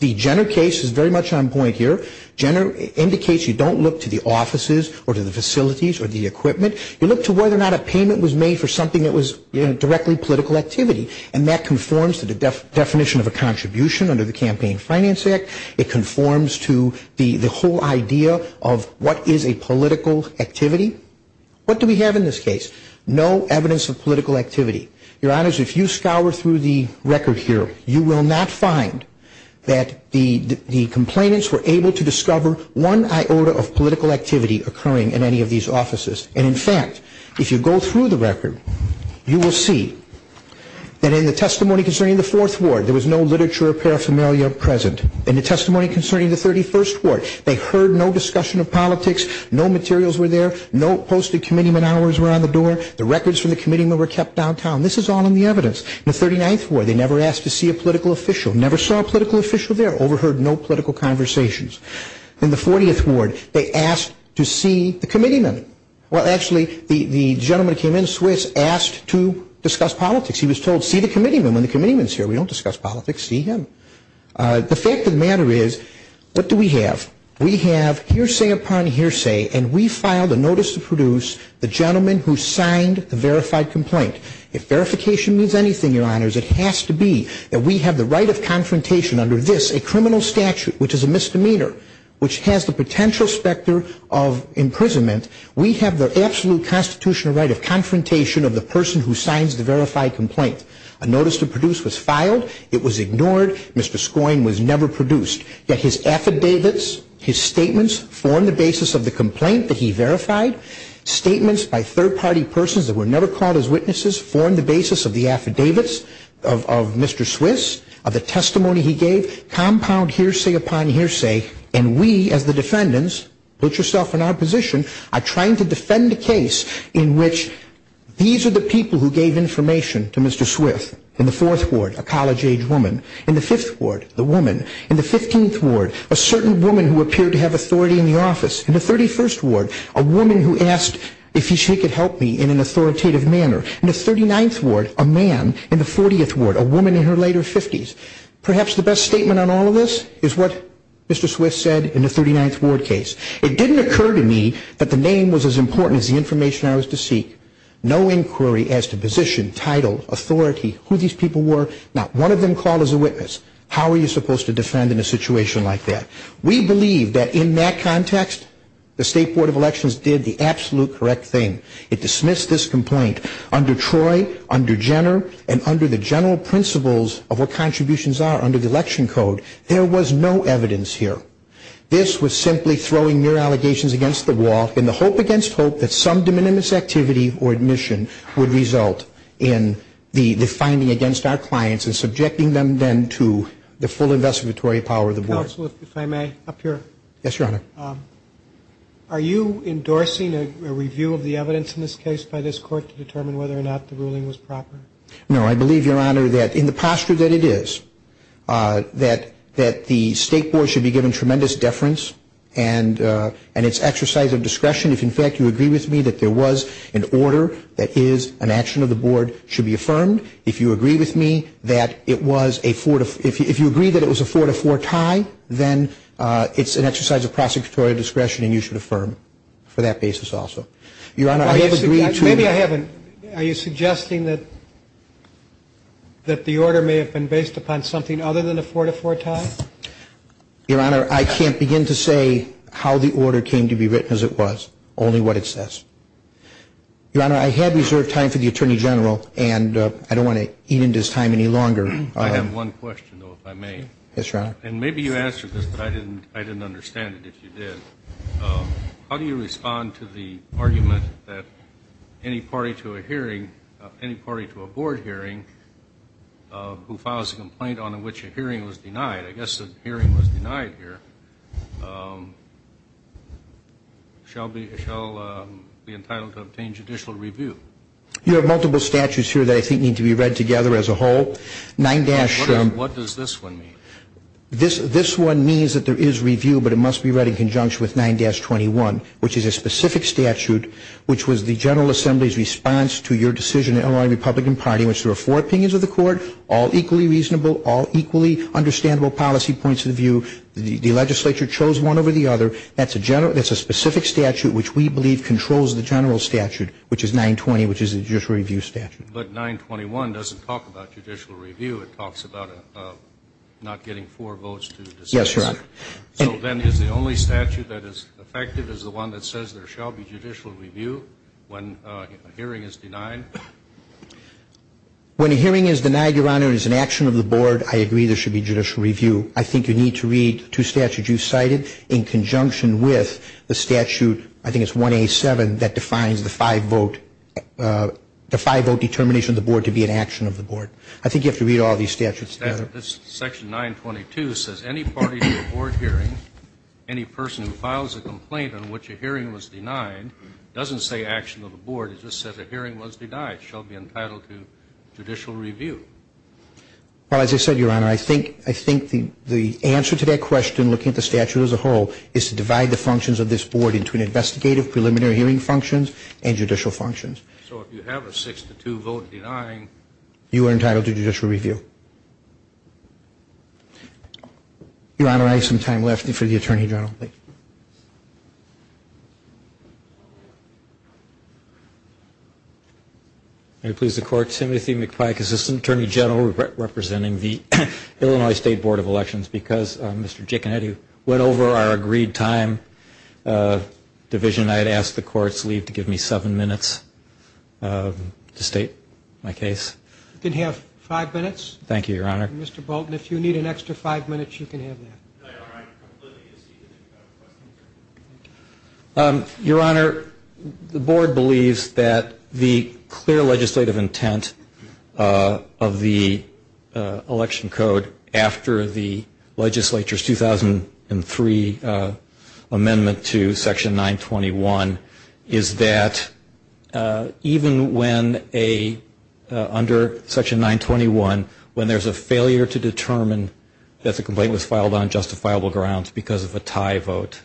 The Jenner case is very much on point here. Jenner indicates you don't look to the offices or to the facilities or the equipment. You look to whether or not a payment was made for something that was directly political activity, and that conforms to the definition of a contribution under the Campaign Finance Act. It conforms to the whole idea of what is a political activity. What do we have in this case? No evidence of political activity. Your Honors, if you scour through the record here, you will not find that the complainants were able to discover one iota of political activity occurring in any of these offices. And, in fact, if you go through the record, you will see that in the testimony concerning the Fourth Ward, there was no literature or paraphernalia present. In the testimony concerning the 31st Ward, they heard no discussion of politics, no materials were there, no posted committeeman hours were on the door, the records from the committeeman were kept downtown. This is all in the evidence. In the 39th Ward, they never asked to see a political official, never saw a political official there, overheard no political conversations. In the 40th Ward, they asked to see the committeeman. Well, actually, the gentleman who came in, Swiss, asked to discuss politics. He was told, see the committeeman when the committeeman is here. We don't discuss politics. See him. The fact of the matter is, what do we have? We have hearsay upon hearsay, and we filed a notice to produce the gentleman who signed the verified complaint. If verification means anything, Your Honors, it has to be that we have the right of confrontation under this, a criminal statute, which is a misdemeanor, which has the potential specter of imprisonment. We have the absolute constitutional right of confrontation of the person who signs the verified complaint. A notice to produce was filed. It was ignored. Mr. Skoyne was never produced. Yet his affidavits, his statements, form the basis of the complaint that he verified, statements by third-party persons that were never called as witnesses, form the basis of the affidavits of Mr. Swiss, of the testimony he gave, compound hearsay upon hearsay, and we, as the defendants, put yourself in our position, are trying to defend a case in which these are the people who gave information to Mr. Swiss. In the 4th Ward, a college-age woman. In the 5th Ward, the woman. In the 15th Ward, a certain woman who appeared to have authority in the office. In the 31st Ward, a woman who asked if she could help me in an authoritative manner. In the 39th Ward, a man. In the 40th Ward, a woman in her later 50s. Perhaps the best statement on all of this is what Mr. Swiss said in the 39th Ward case. It didn't occur to me that the name was as important as the information I was to seek. No inquiry as to position, title, authority, who these people were. Not one of them called as a witness. How are you supposed to defend in a situation like that? We believe that in that context, the State Board of Elections did the absolute correct thing. It dismissed this complaint under Troy, under Jenner, and under the general principles of what contributions are under the election code. There was no evidence here. This was simply throwing mere allegations against the wall in the hope against hope that some de minimis activity or admission would result in the finding against our clients and subjecting them then to the full investigatory power of the board. Counsel, if I may, up here. Yes, Your Honor. Are you endorsing a review of the evidence in this case by this court to determine whether or not the ruling was proper? No. I believe, Your Honor, that in the posture that it is, that the State Board should be given tremendous deference and its exercise of discretion if, in fact, you agree with me that there was an order that is an action of the board should be affirmed. If you agree with me that it was a four to four tie, then it's an exercise of prosecutorial discretion and you should affirm for that basis also. Your Honor, I have agreed to Maybe I haven't. Are you suggesting that the order may have been based upon something other than a four to four tie? Your Honor, I can't begin to say how the order came to be written as it was, only what it says. Your Honor, I have reserved time for the Attorney General and I don't want to eat into his time any longer. I have one question, though, if I may. Yes, Your Honor. And maybe you answered this, but I didn't understand it if you did. How do you respond to the argument that any party to a hearing, any party to a board hearing who files a complaint on which a hearing was denied, I guess a hearing was denied here, shall be entitled to obtain judicial review? You have multiple statutes here that I think need to be read together as a whole. What does this one mean? This one means that there is review, but it must be read in conjunction with 9-21, which is a specific statute which was the General Assembly's response to your decision in the Illinois Republican Party in which there were four opinions of the court, all equally reasonable, all equally understandable policy points of view. The legislature chose one over the other. That's a specific statute which we believe controls the general statute, which is 9-20, which is a judicial review statute. But 9-21 doesn't talk about judicial review. It talks about not getting four votes to decide. Yes, Your Honor. So then is the only statute that is effective is the one that says there shall be judicial review when a hearing is denied? When a hearing is denied, Your Honor, it is an action of the board. I agree there should be judicial review. I think you need to read two statutes you cited in conjunction with the statute I think it's 187 that defines the five-vote determination of the board to be an action of the board. I think you have to read all these statutes together. Section 922 says any party to a board hearing, any person who files a complaint on which a hearing was denied, doesn't say action of the board. It just says a hearing was denied, shall be entitled to judicial review. Well, as I said, Your Honor, I think the answer to that question, looking at the statute as a whole, is to divide the functions of this board into an investigative preliminary hearing functions and judicial functions. So if you have a 6-2 vote denying? You are entitled to judicial review. Your Honor, I have some time left for the Attorney General. May it please the Court, Timothy McPike, Assistant Attorney General, representing the Illinois State Board of Elections. Because Mr. Giaconetti went over our agreed time division, I'd ask the Court's leave to give me seven minutes to state my case. You can have five minutes. Thank you, Your Honor. Mr. Bolton, if you need an extra five minutes, you can have that. No, Your Honor, I completely agree. Your Honor, the board believes that the clear legislative intent of the election code after the legislature's 2003 amendment to Section 921 is that even when under Section 921, when there's a failure to determine that the complaint was filed on justifiable grounds because of a tie vote,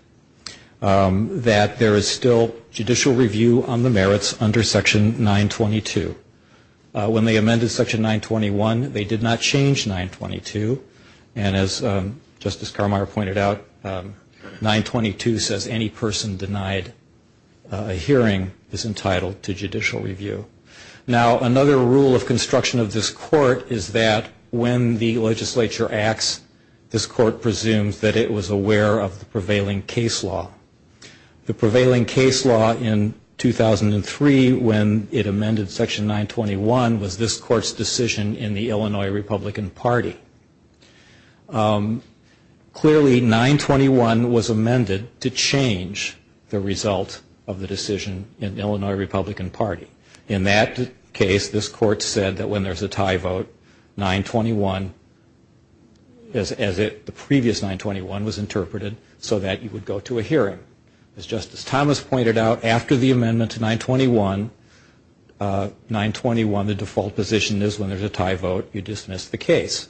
that there is still judicial review on the merits under Section 922. When they amended Section 921, they did not change 922. And as Justice Carmeier pointed out, 922 says any person denied a hearing is entitled to judicial review. Now, another rule of construction of this Court is that when the legislature acts, this Court presumes that it was aware of the prevailing case law. The prevailing case law in 2003, when it amended Section 921, was this Court's decision in the Illinois Republican Party. Clearly, 921 was amended to change the result of the decision in the Illinois Republican Party. In that case, this Court said that when there's a tie vote, 921, as the previous 921 was interpreted, so that you would go to a hearing. As Justice Thomas pointed out, after the amendment to 921, 921, the default position is when there's a tie vote, you dismiss the case.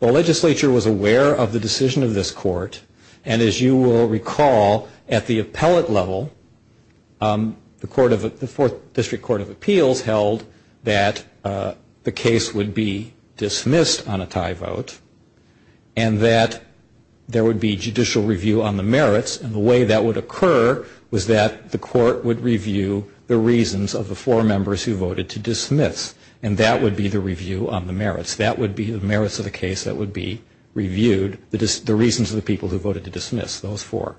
The legislature was aware of the decision of this Court, and as you will recall, at the appellate level, the Fourth District Court of Appeals held that the case would be dismissed on a tie vote and that there would be judicial review on the merits. And the way that would occur was that the Court would review the reasons of the four members who voted to dismiss, and that would be the review on the merits. That would be the merits of the case that would be reviewed, the reasons of the people who voted to dismiss, those four.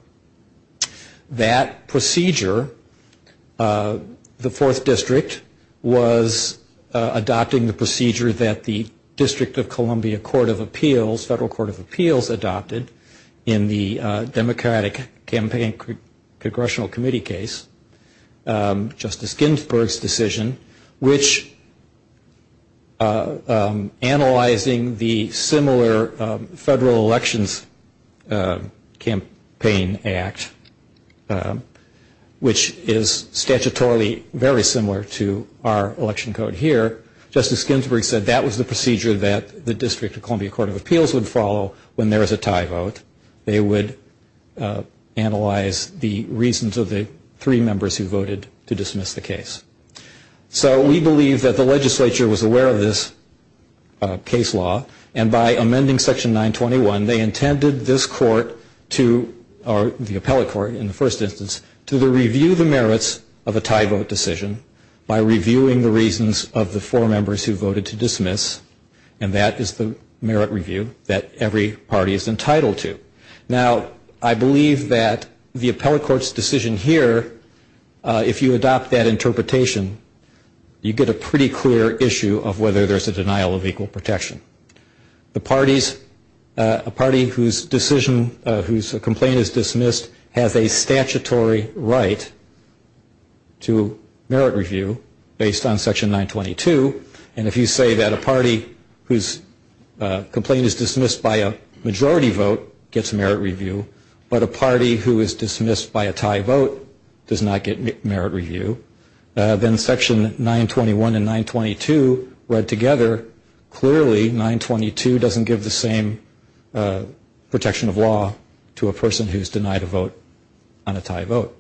That procedure, the Fourth District was adopting the procedure that the District of Columbia Court of Appeals, adopted in the Democratic Campaign Congressional Committee case. Justice Ginsburg's decision, which analyzing the similar Federal Elections Campaign Act, which is statutorily very similar to our election code here, Justice Ginsburg said that was the procedure that the District of Columbia Court of Appeals would follow when there is a tie vote. They would analyze the reasons of the three members who voted to dismiss the case. So we believe that the legislature was aware of this case law, and by amending Section 921, they intended this Court to, or the appellate court in the first instance, to review the merits of a tie vote decision by reviewing the reasons of the four members who voted to dismiss, and that is the merit review that every party is entitled to. Now, I believe that the appellate court's decision here, if you adopt that interpretation, you get a pretty clear issue of whether there's a denial of equal protection. The parties, a party whose decision, whose complaint is dismissed, has a statutory right to merit review based on Section 922, and if you say that a party whose complaint is dismissed by a majority vote gets merit review, but a party who is dismissed by a tie vote does not get merit review, then Section 921 and 922 read together. Clearly, 922 doesn't give the same protection of law to a person who's denied a vote on a tie vote.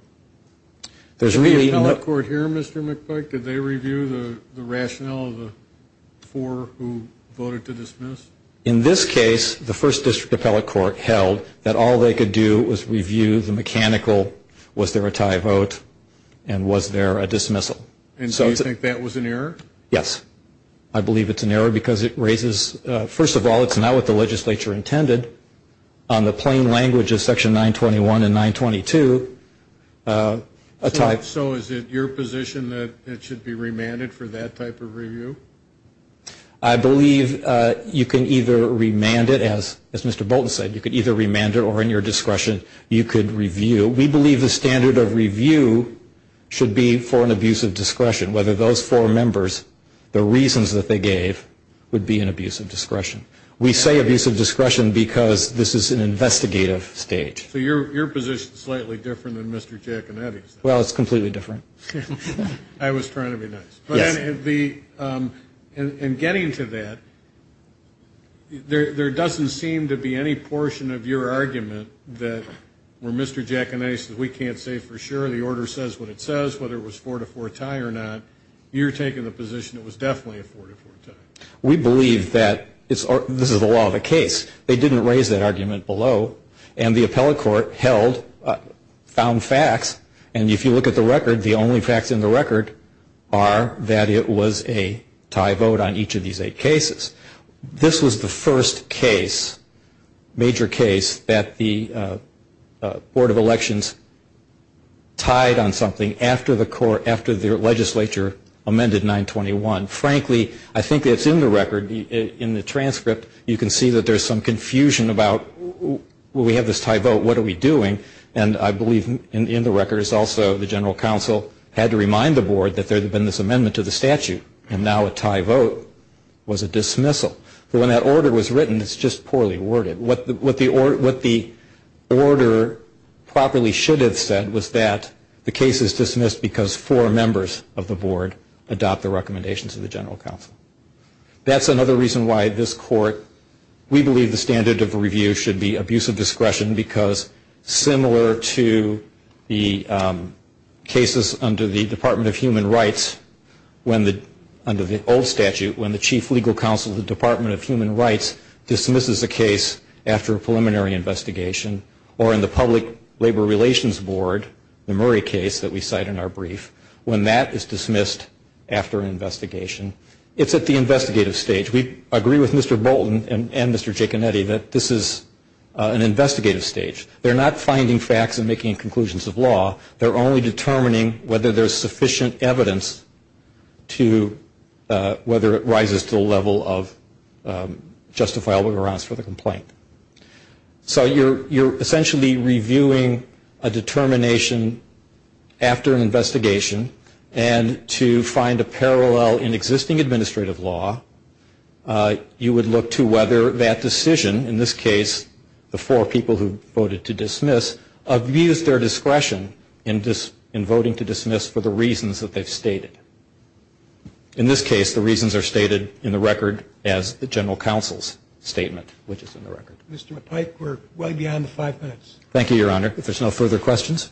Did the appellate court hear, Mr. McPike? Did they review the rationale of the four who voted to dismiss? In this case, the first district appellate court held that all they could do was review the mechanical, was there a tie vote, and was there a dismissal. And so you think that was an error? Yes. I believe it's an error because it raises, first of all, it's not what the legislature intended. On the plain language of Section 921 and 922, a tie vote. So is it your position that it should be remanded for that type of review? I believe you can either remand it, as Mr. Bolton said, you could either remand it or, in your discretion, you could review. We believe the standard of review should be for an abuse of discretion, whether those four members, the reasons that they gave would be an abuse of discretion. We say abuse of discretion because this is an investigative state. So your position is slightly different than Mr. Giaconetti's. Well, it's completely different. I was trying to be nice. Yes. In getting to that, there doesn't seem to be any portion of your argument that where Mr. Giaconetti says, we can't say for sure, the order says what it says, whether it was a four-to-four tie or not, you're taking the position it was definitely a four-to-four tie. We believe that this is the law of the case. They didn't raise that argument below, and the appellate court held, found facts, and if you look at the record, the only facts in the record are that it was a tie vote on each of these eight cases. This was the first case, major case, that the Board of Elections tied on something after the legislature amended 921. Frankly, I think it's in the record, in the transcript, you can see that there's some confusion about, well, we have this tie vote, what are we doing? And I believe in the record is also the general counsel had to remind the board that there had been this amendment to the statute, and now a tie vote was a dismissal. But when that order was written, it's just poorly worded. What the order properly should have said was that the case is dismissed because four members of the board adopt the recommendations of the general counsel. That's another reason why this court, we believe the standard of review should be abuse of discretion because similar to the cases under the Department of Human Rights, under the old statute, when the chief legal counsel of the Department of Human Rights dismisses a case after a preliminary investigation, or in the Public Labor Relations Board, the Murray case that we cite in our brief, when that is dismissed after an investigation, it's at the investigative stage. We agree with Mr. Bolton and Mr. Giaconetti that this is an investigative stage. They're not finding facts and making conclusions of law. They're only determining whether there's sufficient evidence to whether it rises to the level of justifiable grounds for the complaint. So you're essentially reviewing a determination after an investigation and to find a parallel in existing administrative law. You would look to whether that decision, in this case, the four people who voted to dismiss, abuse their discretion in voting to dismiss for the reasons that they've stated. In this case, the reasons are stated in the record as the general counsel's statement, which is in the record. Mr. McPike, we're way beyond five minutes. Thank you, Your Honor. If there's no further questions.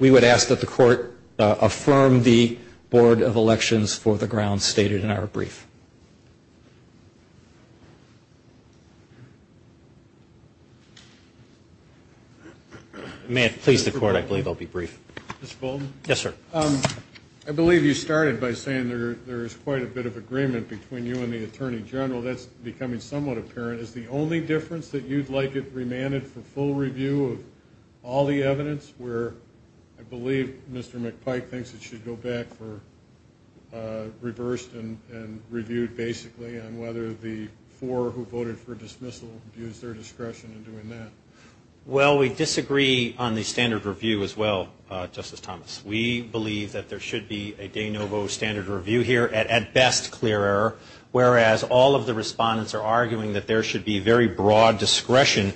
We would ask that the Court affirm the Board of Elections for the grounds stated in our brief. May it please the Court. I believe I'll be brief. Mr. Bolton? Yes, sir. I believe you started by saying there is quite a bit of agreement between you and the Attorney General. That's becoming somewhat apparent. Is the only difference that you'd like it remanded for full review of all the evidence, where I believe Mr. McPike thinks it should go back for reversed and reviewed, basically, and whether the four who voted for dismissal abused their discretion in doing that? Well, we disagree on the standard review as well, Justice Thomas. We believe that there should be a de novo standard review here, at best clear error, whereas all of the respondents are arguing that there should be very broad discretion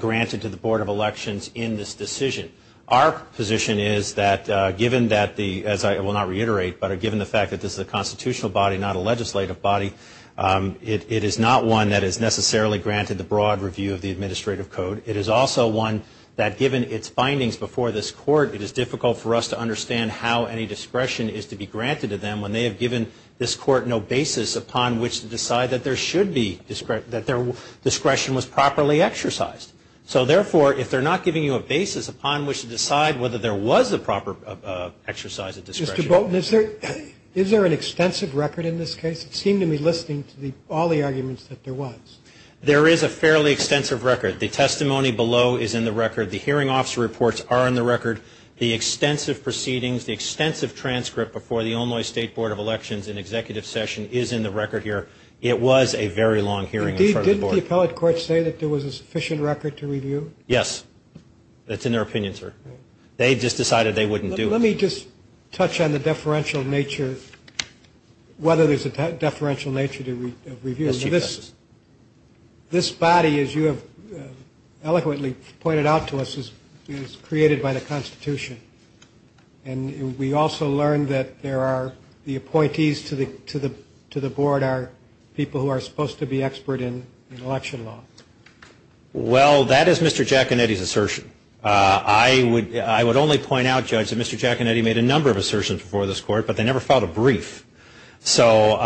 granted to the Board of Elections in this decision. Our position is that given that the, as I will not reiterate, but given the fact that this is a constitutional body, not a legislative body, it is not one that is necessarily granted the broad review of the Administrative Code. It is also one that, given its findings before this Court, it is difficult for us to understand how any discretion is to be granted to them when they have given this Court no basis upon which to decide that there should be discretion, that their discretion was properly exercised. So, therefore, if they're not giving you a basis upon which to decide whether there was a proper exercise of discretion. Mr. Bolton, is there an extensive record in this case? It seemed to me, listening to all the arguments, that there was. There is a fairly extensive record. The testimony below is in the record. The hearing officer reports are in the record. The extensive proceedings, the extensive transcript before the Illinois State Board of Elections in executive session is in the record here. It was a very long hearing in front of the Board. Did the appellate court say that there was a sufficient record to review? Yes. That's in their opinion, sir. They just decided they wouldn't do it. Let me just touch on the deferential nature, whether there's a deferential nature to review. This body, as you have eloquently pointed out to us, is created by the Constitution. And we also learned that there are the appointees to the Board are people who are supposed to be expert in election law. Well, that is Mr. Giaconetti's assertion. I would only point out, Judge, that Mr. Giaconetti made a number of assertions before this Court, but they never filed a brief. So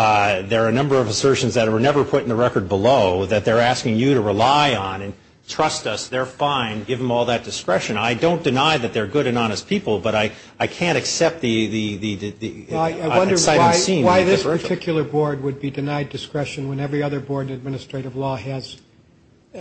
there are a number of assertions that were never put in the record below that they're asking you to rely on and trust us, they're fine, give them all that discretion. I don't deny that they're good and honest people, but I can't accept the sight unseen with deferential. I wonder why this particular Board would be denied discretion when every other Board in administrative law has,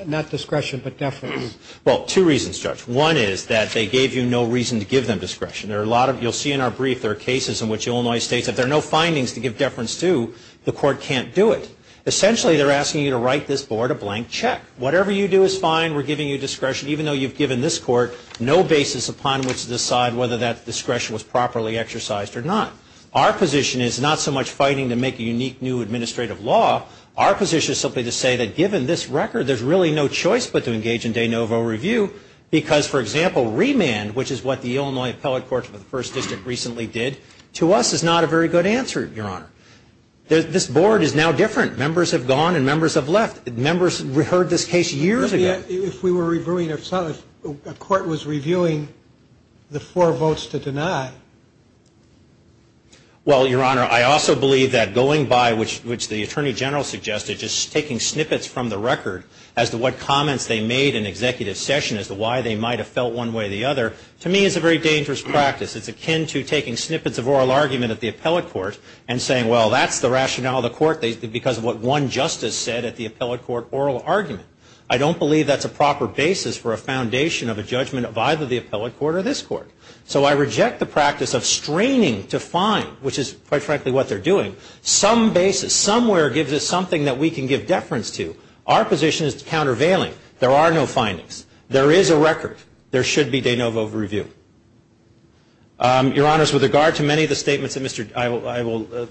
not discretion, but deference. Well, two reasons, Judge. One is that they gave you no reason to give them discretion. You'll see in our brief there are cases in which Illinois states if there are no findings to give deference to, the Court can't do it. Essentially, they're asking you to write this Board a blank check. Whatever you do is fine. We're giving you discretion. Even though you've given this Court no basis upon which to decide whether that discretion was properly exercised or not. Our position is not so much fighting to make a unique new administrative law. Our position is simply to say that given this record, there's really no choice but to engage in de novo review because, for example, remand, which is what the Illinois Appellate Court for the First District recently did, to us is not a very good answer, Your Honor. This Board is now different. Members have gone and members have left. Members heard this case years ago. If we were reviewing, if a court was reviewing the four votes to deny. Well, Your Honor, I also believe that going by, which the Attorney General suggested, just taking snippets from the record as to what comments they made in executive session, as to why they might have felt one way or the other, to me is a very dangerous practice. It's akin to taking snippets of oral argument at the Appellate Court and saying, well, that's the rationale of the Court, because of what one justice said at the Appellate Court oral argument. I don't believe that's a proper basis for a foundation of a judgment of either the Appellate Court or this Court. So I reject the practice of straining to find, which is, quite frankly, what they're doing. Some basis, somewhere gives us something that we can give deference to. Our position is countervailing. There are no findings. There is a record. There should be de novo review. Your Honors, with regard to many of the statements that Mr. ‑‑ I will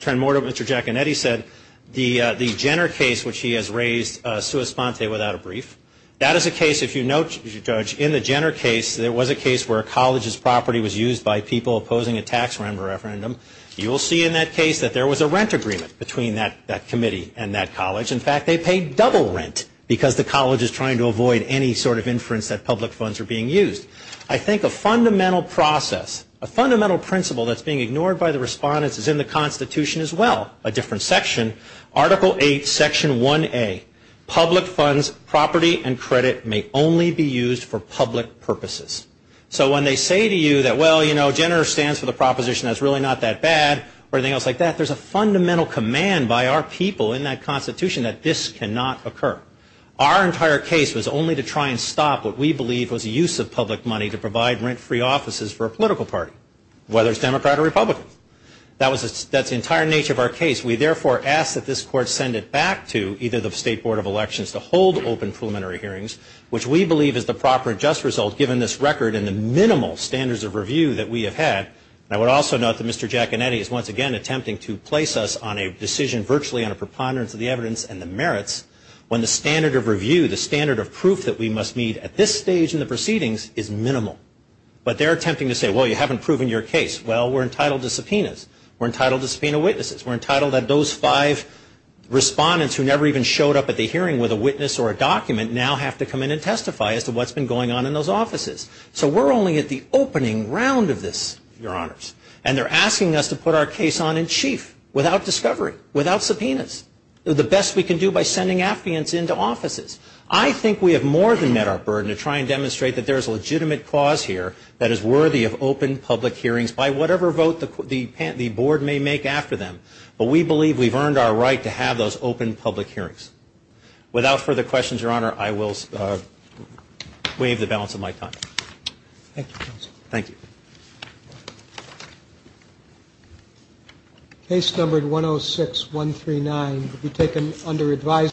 turn more to Mr. Giaconetti said, the Jenner case, which he has raised, sua sponte, without a brief, that is a case, if you note, Judge, in the Jenner case, there was a case where a college's property was used by people opposing a tax referendum. You will see in that case that there was a rent agreement between that committee and that college. In fact, they paid double rent because the college is trying to avoid any sort of inference that public funds are being used. I think a fundamental process, a fundamental principle that's being ignored by the respondents is in the Constitution as well, a different section, Article 8, Section 1A, public funds, property, and credit may only be used for public purposes. So when they say to you that, well, you know, Jenner stands for the proposition that it's really not that bad or anything else like that, there's a fundamental command by our people in that Constitution that this cannot occur. Our entire case was only to try and stop what we believe was use of public money to provide rent-free offices for a political party, whether it's Democrat or Republican. That's the entire nature of our case. We, therefore, ask that this Court send it back to either the State Board of Elections to hold open preliminary hearings, which we believe is the proper and just result given this record and the minimal standards of review that we have had. I would also note that Mr. Giaconetti is once again attempting to place us on a decision virtually on a preponderance of the evidence and the merits when the standard of review, the standard of proof that we must meet at this stage in the proceedings is minimal. But they're attempting to say, well, you haven't proven your case. Well, we're entitled to subpoenas. We're entitled to subpoena witnesses. We're entitled that those five respondents who never even showed up at the hearing with a witness or a document now have to come in and testify as to what's been going on in those offices. So we're only at the opening round of this, Your Honors. And they're asking us to put our case on in chief without discovery, without subpoenas. The best we can do by sending affidavits into offices. I think we have more than met our burden to try and demonstrate that there is a legitimate cause here that is worthy of open public hearings by whatever vote the board may make after them. But we believe we've earned our right to have those open public hearings. Without further questions, Your Honor, I will waive the balance of my time. Thank you, Counsel. Thank you. Case number 106139 will be taken under advisory.